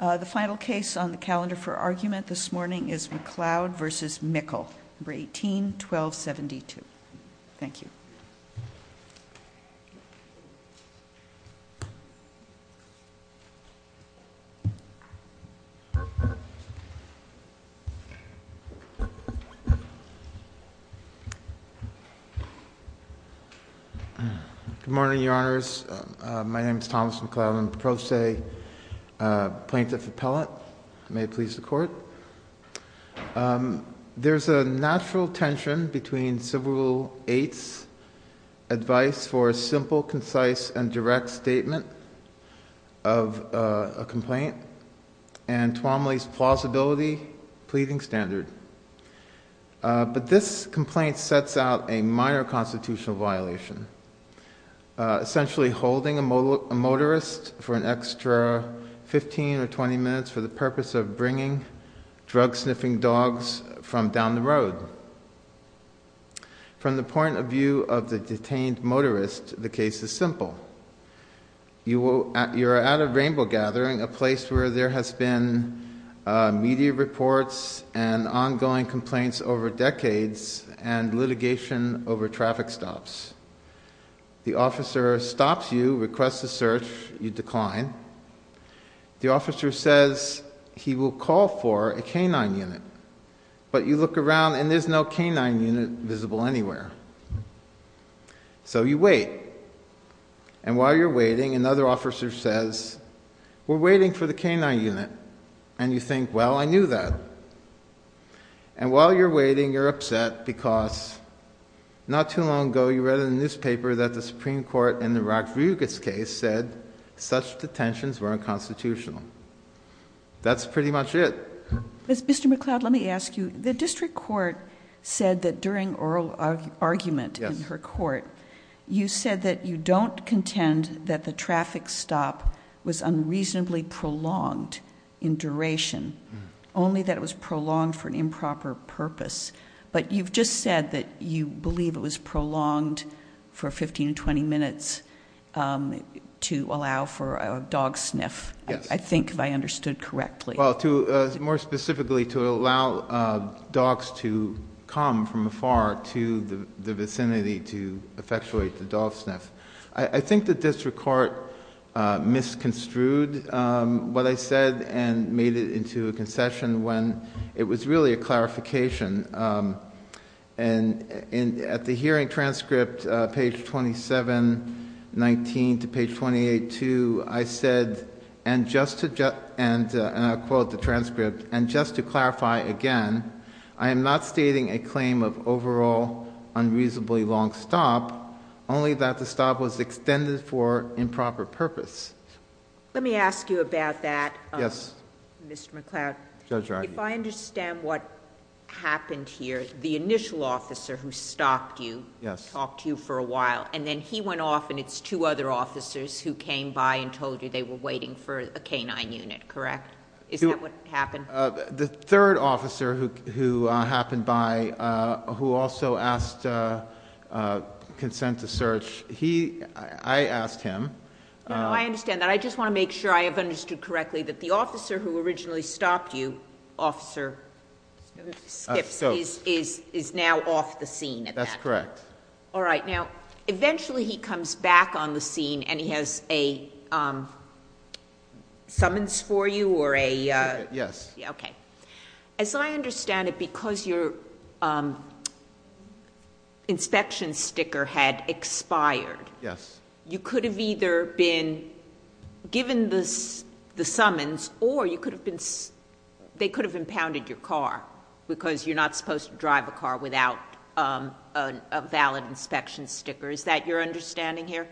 The final case on the calendar for argument this morning is McLeod v. Mickle, No. 18-1272. Thank you. Good morning, Your Honors. My name is Thomas McLeod. I'm a pro se plaintiff appellate. May it please the court. There's a natural tension between Civil Rule 8's advice for a simple, concise, and direct statement of a complaint and Tuomaly's plausibility pleading standard. But this complaint sets out a minor constitutional violation, essentially holding a motorist for an extra 15 or 20 minutes for the purpose of bringing drug-sniffing dogs from down the road. From the point of view of the detained motorist, the case is simple. You are at a rainbow gathering, a place where there has been media reports and ongoing complaints over decades and litigation over traffic stops. The officer stops you, requests a search. You decline. The officer says he will call for a canine unit. But you look around and there's no canine unit visible anywhere. So you wait. And while you're waiting, another officer says, we're waiting for the canine unit. And you think, well, I knew that. And while you're waiting, you're upset because not too long ago, you read in the newspaper that the Supreme Court in the Rakvigas case said such detentions were unconstitutional. That's pretty much it. Mr. McCloud, let me ask you, the district court said that during oral argument in her court, you said that you don't contend that the traffic stop was unreasonably prolonged in duration, only that it was prolonged for an improper purpose. But you've just said that you believe it was prolonged for 15 to 20 minutes to allow for a dog sniff. Yes. I think I understood correctly. More specifically, to allow dogs to come from afar to the vicinity to effectuate the dog sniff. I think the district court misconstrued what I said and made it into a concession when it was really a clarification. And at the hearing transcript, page 2719 to page 282, I said, and I'll quote the transcript, and just to clarify again, I am not stating a claim of overall unreasonably long stop, only that the stop was extended for improper purpose. Let me ask you about that. Yes. Mr. McCloud, if I understand what happened here, the initial officer who stopped you, talked to you for a while, and then he went off and it's two other officers who came by and told you they were waiting for a canine unit, correct? Is that what happened? The third officer who happened by, who also asked consent to search, I asked him... No, I understand that. I just want to make sure I have understood correctly that the officer who originally stopped you, Officer Skips, is now off the scene at that point. That's correct. All right. Now, eventually he comes back on the scene and he has a summons for you or a... Yes. Okay. As I understand it, because your inspection sticker had expired... Yes.... you could have either been given the summons or they could have impounded your car because you're not supposed to drive a car without a valid inspection sticker. Is that your understanding here?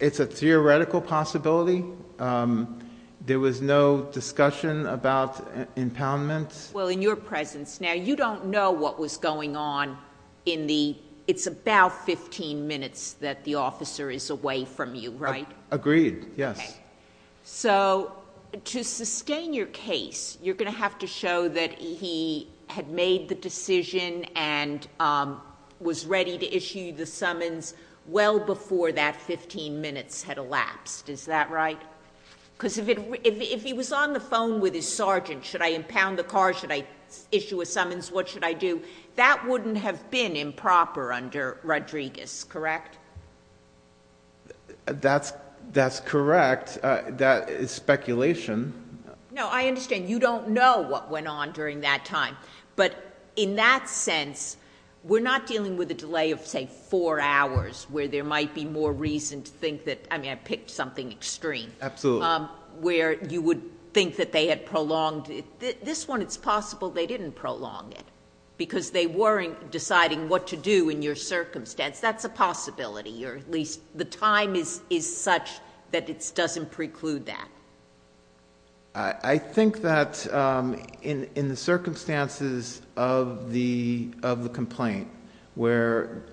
It's a theoretical possibility. There was no discussion about impoundment. Well, in your presence now, you don't know what was going on in the... it's about fifteen minutes that the officer is away from you, right? Agreed, yes. Okay. To sustain your case, you're going to have to show that he had made the decision and was ready to issue the summons well before that fifteen minutes had elapsed. Is that right? Because if he was on the phone with his sergeant, should I impound the car? Should I issue a summons? What should I do? That wouldn't have been improper under Rodriguez, correct? That's correct. That is speculation. No, I understand. You don't know what went on during that time, but in that sense, we're not dealing with a delay of, say, four hours where there might be more reason to think that... I mean, I picked something extreme... Absolutely.... where you would think that they had prolonged it. This one, it's possible they didn't prolong it because they weren't deciding what to do in your circumstance. That's a possibility, or at least the time is such that it doesn't preclude that. I think that in the circumstances of the complaint, where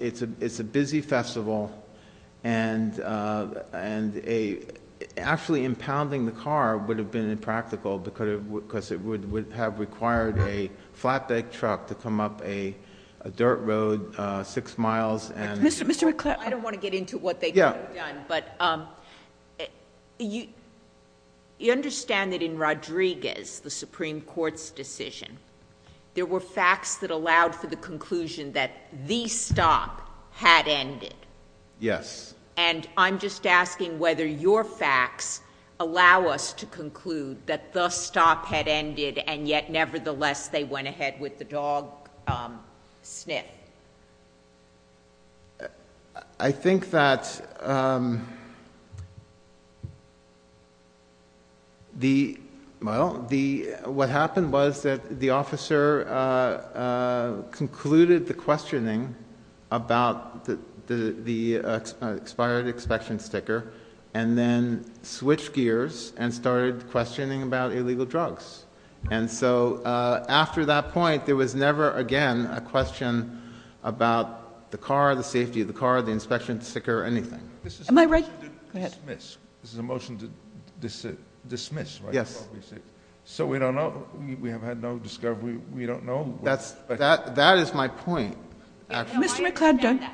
it's a busy festival and actually impounding the car would have been impractical because it would have required a flatbed truck to come up a dirt road six miles and... You understand that in Rodriguez, the Supreme Court's decision, there were facts that allowed for the conclusion that the stop had ended? Yes. And, I'm just asking whether your facts allow us to conclude that the stop had ended and yet, nevertheless, they went ahead with the dog sniff. I think that the... well, what happened was that the officer concluded the questioning about the expired inspection sticker and then switched gears and started questioning about illegal drugs. And so, after that point, there was never again a question about the car, the safety of the car, the inspection sticker, or anything. Am I right? Go ahead. This is a motion to dismiss, right? Yes. So, we don't know. We have had no discovery. We don't know. That is my point. Mr. McCloud,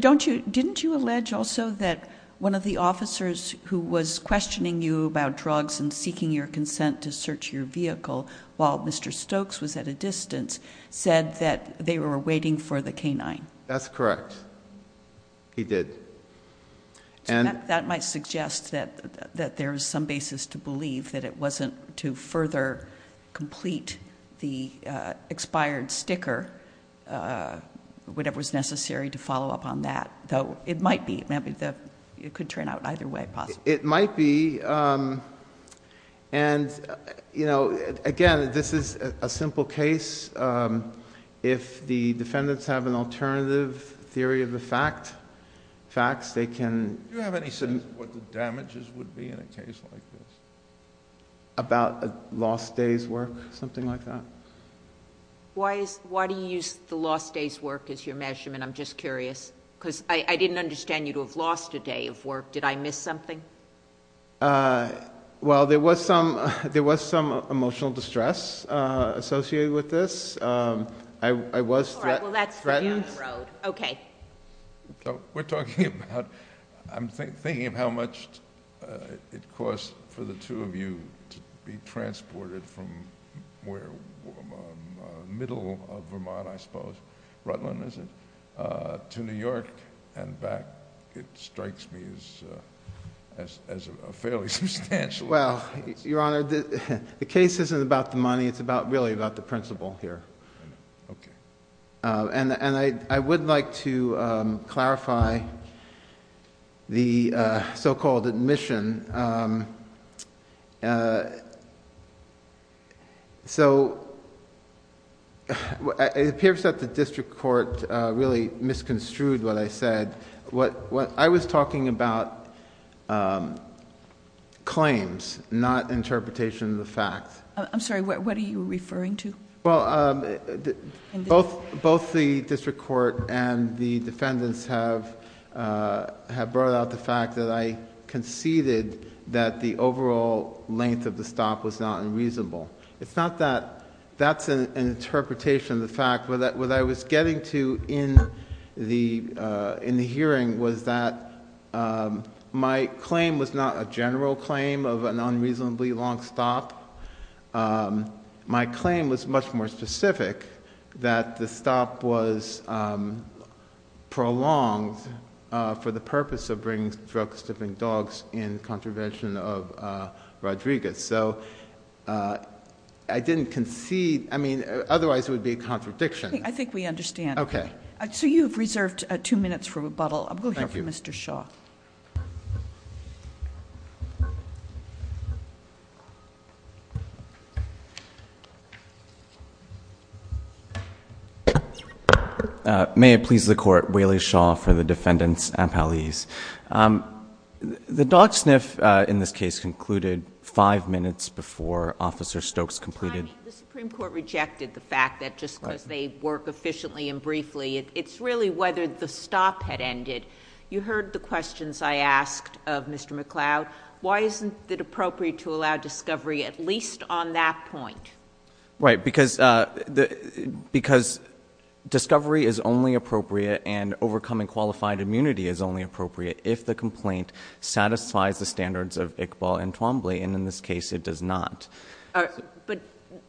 don't you... didn't you allege also that one of the officers who was questioning you about drugs and seeking your consent to search your vehicle while Mr. Stokes was at a distance said that they were waiting for the canine? That's correct. He did. So, that might suggest that there is some basis to believe that it wasn't to further complete the expired sticker, whatever was necessary to follow up on that. Though, it might be. It could turn out either way, possibly. It might be. Again, this is a simple case. If the defendants have an alternative theory of the facts, they can... Do you have any sense of what the damages would be in a case like this? About a lost day's work, something like that? Why do you use the lost day's work as your measurement? I'm just curious. Because I didn't understand you to have lost a day of work. Did I miss something? Well, there was some emotional distress associated with this. I was threatened... All right. Well, that's the end of the road. Okay. We're talking about... I'm thinking of how much it costs for the two of you to be transported from the middle of Vermont, I suppose. Rutland, is it? To New York and back. It strikes me as fairly substantial. Well, Your Honor, the case isn't about the money. It's really about the principle here. I know. Okay. I would like to clarify the so-called admission. It appears that the district court really misconstrued what I said. I was talking about claims, not interpretation of the facts. I'm sorry. What are you referring to? Well, both the district court and the defendants have brought out the fact that I conceded that the overall length of the stop was not unreasonable. It's not that... That's an interpretation of the fact. What I was getting to in the hearing was that my claim was not a general claim of an unreasonably long stop. My claim was much more specific that the stop was prolonged for the purpose of bringing drug-stiffing dogs in contravention of Rodriguez. So I didn't concede... I mean, otherwise it would be a contradiction. I think we understand. Okay. So you have reserved two minutes for rebuttal. I'll go here for Mr. Shaw. May it please the Court. Whaley Shaw for the defendants and appellees. The dog sniff in this case concluded five minutes before Officer Stokes completed... The Supreme Court rejected the fact that just because they work efficiently and briefly, it's really whether the stop had ended. You heard the questions I asked of Mr. McCloud. Why isn't it appropriate to allow discovery at least on that point? Right. Because discovery is only appropriate and overcoming qualified immunity is only appropriate if the complaint satisfies the standards of Iqbal and Twombly. And in this case, it does not. But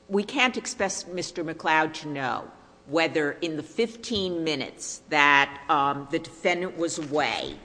we can't expect Mr. McCloud to know whether in the 15 minutes that the defendant was away,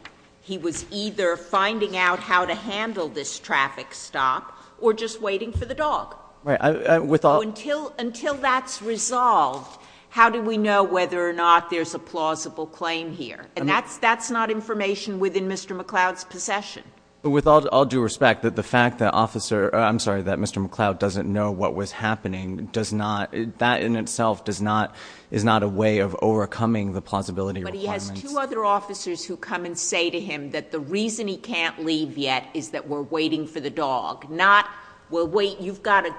he was either finding out how to handle this traffic stop or just waiting for the dog. Right. With all... So until that's resolved, how do we know whether or not there's a plausible claim here? And that's not information within Mr. McCloud's possession. With all due respect, the fact that Officer... I'm sorry, that Mr. McCloud doesn't know what was happening does not... That in itself does not... is not a way of overcoming the plausibility requirements. But he has two other officers who come and say to him that the reason he can't leave yet is that we're waiting for the dog, not we'll wait... You've got to...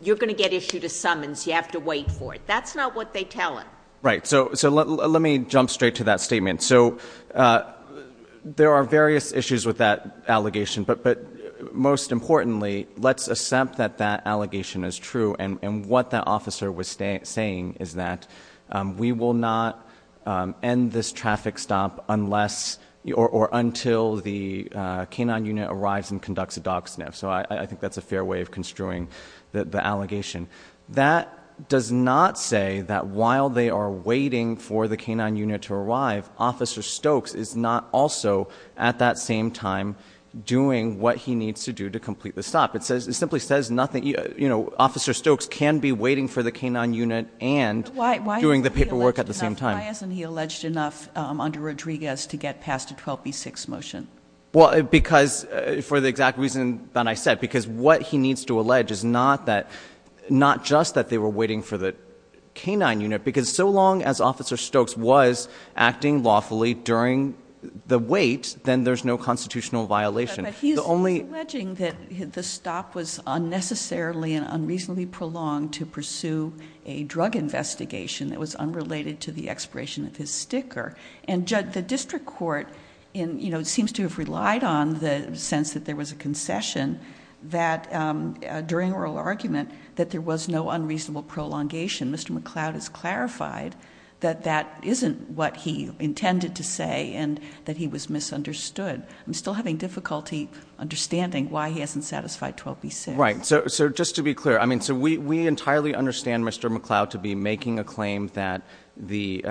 You're going to get issued a summons. You have to wait for it. That's not what they tell him. Right. So let me jump straight to that statement. So there are various issues with that allegation. But most importantly, let's accept that that allegation is true. And what that officer was saying is that we will not end this traffic stop unless or until the K-9 unit arrives and conducts a dog sniff. So I think that's a fair way of construing the allegation. That does not say that while they are waiting for the K-9 unit to arrive, Officer Stokes is not also, at that same time, doing what he needs to do to complete the stop. It simply says nothing. You know, Officer Stokes can be waiting for the K-9 unit and doing the paperwork at the same time. Why isn't he alleged enough under Rodriguez to get past a 12B6 motion? Well, because... for the exact reason that I said. Because what he needs to allege is not that... not just that they were waiting for the K-9 unit. Because so long as Officer Stokes was acting lawfully during the wait, then there's no constitutional violation. But he's alleging that the stop was unnecessarily and unreasonably prolonged to pursue a drug investigation that was unrelated to the expiration of his sticker. And the district court seems to have relied on the sense that there was a concession that, during oral argument, that there was no unreasonable prolongation. Mr. McCloud has clarified that that isn't what he intended to say and that he was misunderstood. I'm still having difficulty understanding why he hasn't satisfied 12B6. Right. So just to be clear. I mean, so we entirely understand Mr. McCloud to be making a claim that the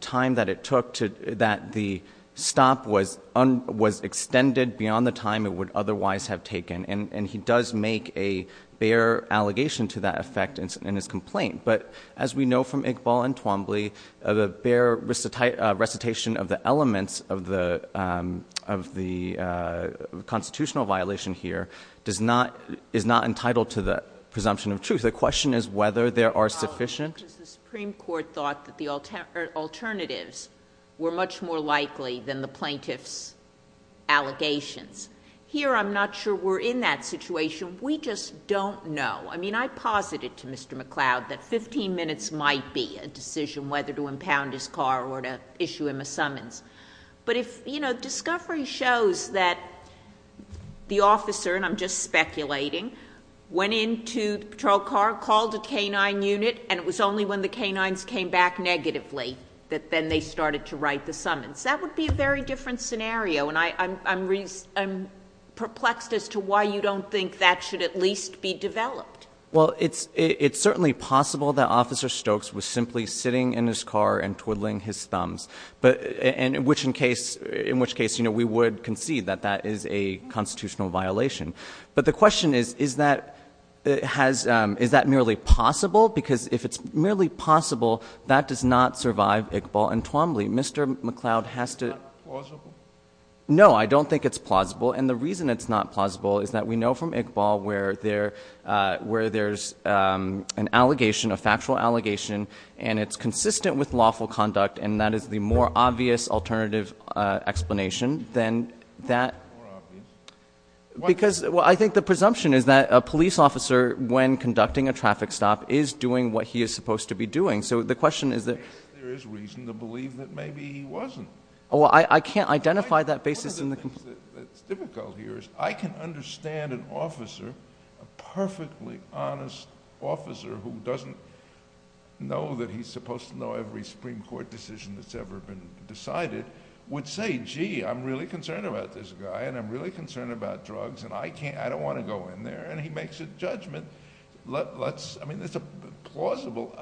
time that it took to... that the stop was extended beyond the time it would otherwise have taken. And he does make a bare allegation to that effect in his complaint. But as we know from Iqbal and Twombly, the bare recitation of the elements of the constitutional violation here does not... is not entitled to the presumption of truth. The question is whether there are sufficient... Probably because the Supreme Court thought that the alternatives were much more likely than the plaintiff's allegations. Here, I'm not sure we're in that situation. We just don't know. I mean, I posited to Mr. McCloud that 15 minutes might be a decision whether to impound his car or to issue him a summons. But if, you know, discovery shows that the officer, and I'm just speculating, went into the patrol car, called a canine unit... and it was only when the canines came back negatively, that then they started to write the summons. That would be a very different scenario. And I'm perplexed as to why you don't think that should at least be developed. Well, it's certainly possible that Officer Stokes was simply sitting in his car and twiddling his thumbs. But in which case, you know, we would concede that that is a constitutional violation. But the question is, is that merely possible? Because if it's merely possible, that does not survive Iqbal and Twombly. Mr. McCloud has to... Is it plausible? No, I don't think it's plausible. And the reason it's not plausible is that we know from Iqbal where there's an allegation, a factual allegation, and it's consistent with lawful conduct. And that is the more obvious alternative explanation than that... More obvious? Because, well, I think the presumption is that a police officer, when conducting a traffic stop, is doing what he is supposed to be doing. So, the question is that... There is reason to believe that maybe he wasn't. Well, I can't identify that basis in the... One of the things that's difficult here is I can understand an officer, a perfectly honest officer, who doesn't know that he's supposed to know every Supreme Court decision that's ever been decided, would say, gee, I'm really concerned about this guy, and I'm really concerned about drugs, and I don't want to go in there. And he makes a judgment. I mean, that's plausible.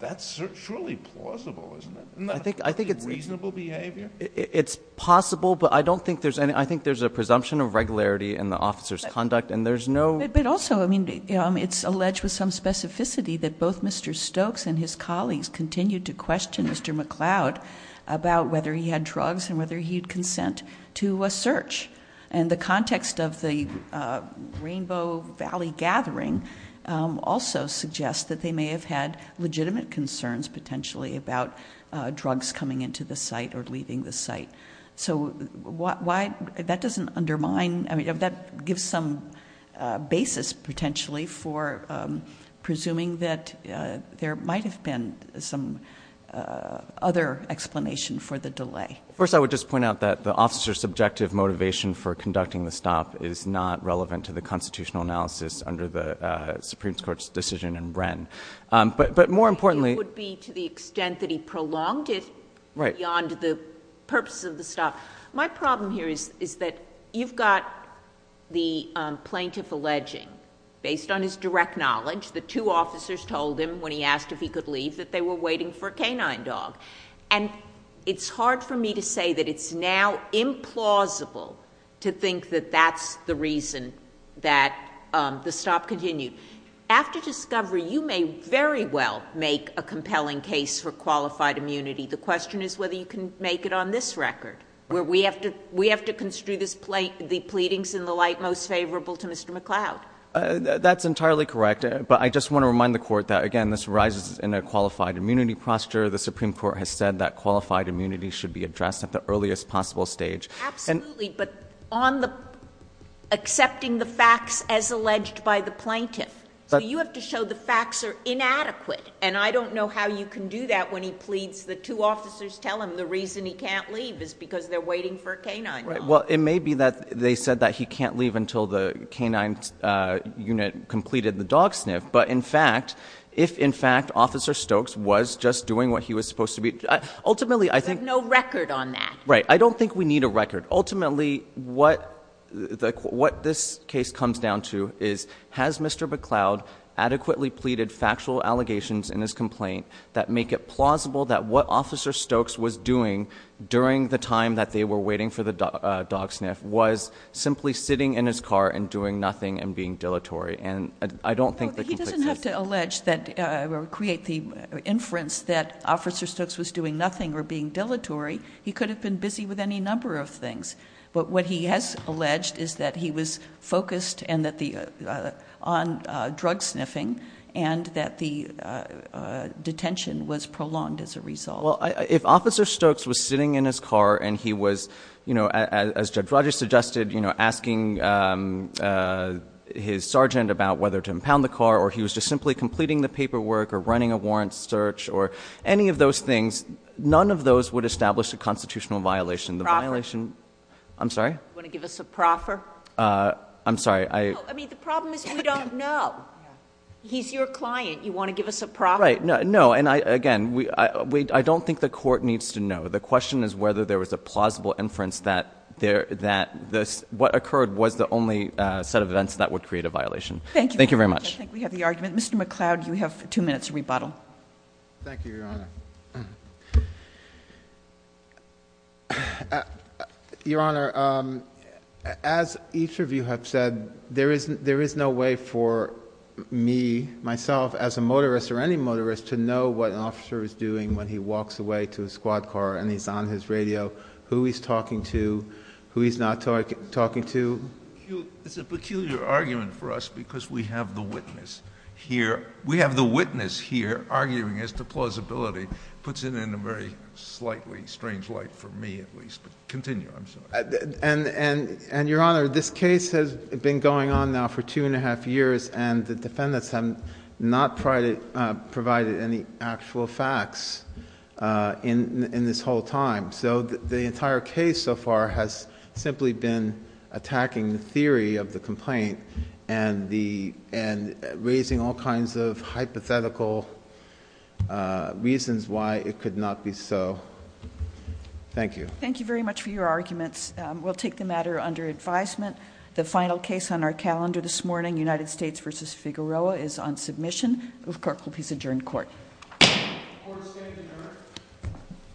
That's surely plausible, isn't it? I think it's... Reasonable behavior? It's possible, but I don't think there's any... I think there's a presumption of regularity in the officer's conduct, and there's no... But also, I mean, it's alleged with some specificity that both Mr. Stokes and his colleagues continued to question Mr. McCloud about whether he had drugs and whether he'd consent to a search. And the context of the Rainbow Valley gathering also suggests that they may have had legitimate concerns, potentially, about drugs coming into the site or leaving the site. So why... that doesn't undermine... I mean, that gives some basis, potentially, for presuming that there might have been some other explanation for the delay. First, I would just point out that the officer's subjective motivation for conducting the stop is not relevant to the constitutional analysis under the Supreme Court's decision in Wren. But more importantly... It would be to the extent that he prolonged it beyond the purpose of the stop. My problem here is that you've got the plaintiff alleging, based on his direct knowledge, the two officers told him, when he asked if he could leave, that they were waiting for a canine dog. And it's hard for me to say that it's now implausible to think that that's the reason that the stop continued. After discovery, you may very well make a compelling case for qualified immunity. The question is whether you can make it on this record, where we have to construe the pleadings in the light most favorable to Mr. McCloud. That's entirely correct. But I just want to remind the Court that, again, this arises in a qualified immunity posture. The Supreme Court has said that qualified immunity should be addressed at the earliest possible stage. Absolutely. But on the accepting the facts as alleged by the plaintiff. So you have to show the facts are inadequate. And I don't know how you can do that when he pleads, the two officers tell him the reason he can't leave is because they're waiting for a canine dog. Well, it may be that they said that he can't leave until the canine unit completed the dog sniff. But, in fact, if, in fact, Officer Stokes was just doing what he was supposed to be... Ultimately, I think... There's no record on that. Right. I don't think we need a record. Ultimately, what this case comes down to is has Mr. McCloud adequately pleaded factual allegations in his complaint that make it plausible that what Officer Stokes was doing during the time that they were waiting for the dog sniff was simply sitting in his car and doing nothing and being dilatory. And I don't think... He doesn't have to allege that or create the inference that Officer Stokes was doing nothing or being dilatory. He could have been busy with any number of things. But, what he has alleged is that he was focused on drug sniffing and that the detention was prolonged as a result. Well, if Officer Stokes was sitting in his car and he was, as Judge Rogers suggested, asking his sergeant about whether to impound the car or he was just simply completing the paperwork or running a warrant search or any of those things, none of those would establish a constitutional violation. The violation... You want to give us a proffer? I'm sorry? You want to give us a proffer? I'm sorry. I... No. I mean, the problem is you don't know. He's your client. You want to give us a proffer? Right. No. And, again, I don't think the Court needs to know. The question is whether there was a plausible inference that what occurred was the only set of events that would create a violation. Thank you. Thank you very much. I think we have the argument. Mr. McCloud, you have two minutes to rebuttal. Thank you, Your Honor. Your Honor, as each of you have said, there is no way for me, myself, as a motorist or any motorist, to know what an officer is doing when he walks away to his squad car and he's on his radio, who he's talking to, who he's not talking to. It's a peculiar argument for us because we have the witness here. We have the witness here arguing as to plausibility. It puts it in a very slightly strange light for me, at least. Continue. I'm sorry. And, Your Honor, this case has been going on now for two and a half years, and the defendants have not provided any actual facts in this whole time. So the entire case so far has simply been attacking the theory of the complaint and raising all kinds of hypothetical reasons why it could not be so. Thank you. Thank you very much for your arguments. We'll take the matter under advisement. The final case on our calendar this morning, United States v. Figueroa, is on submission. The clerk will please adjourn court. Court is adjourned.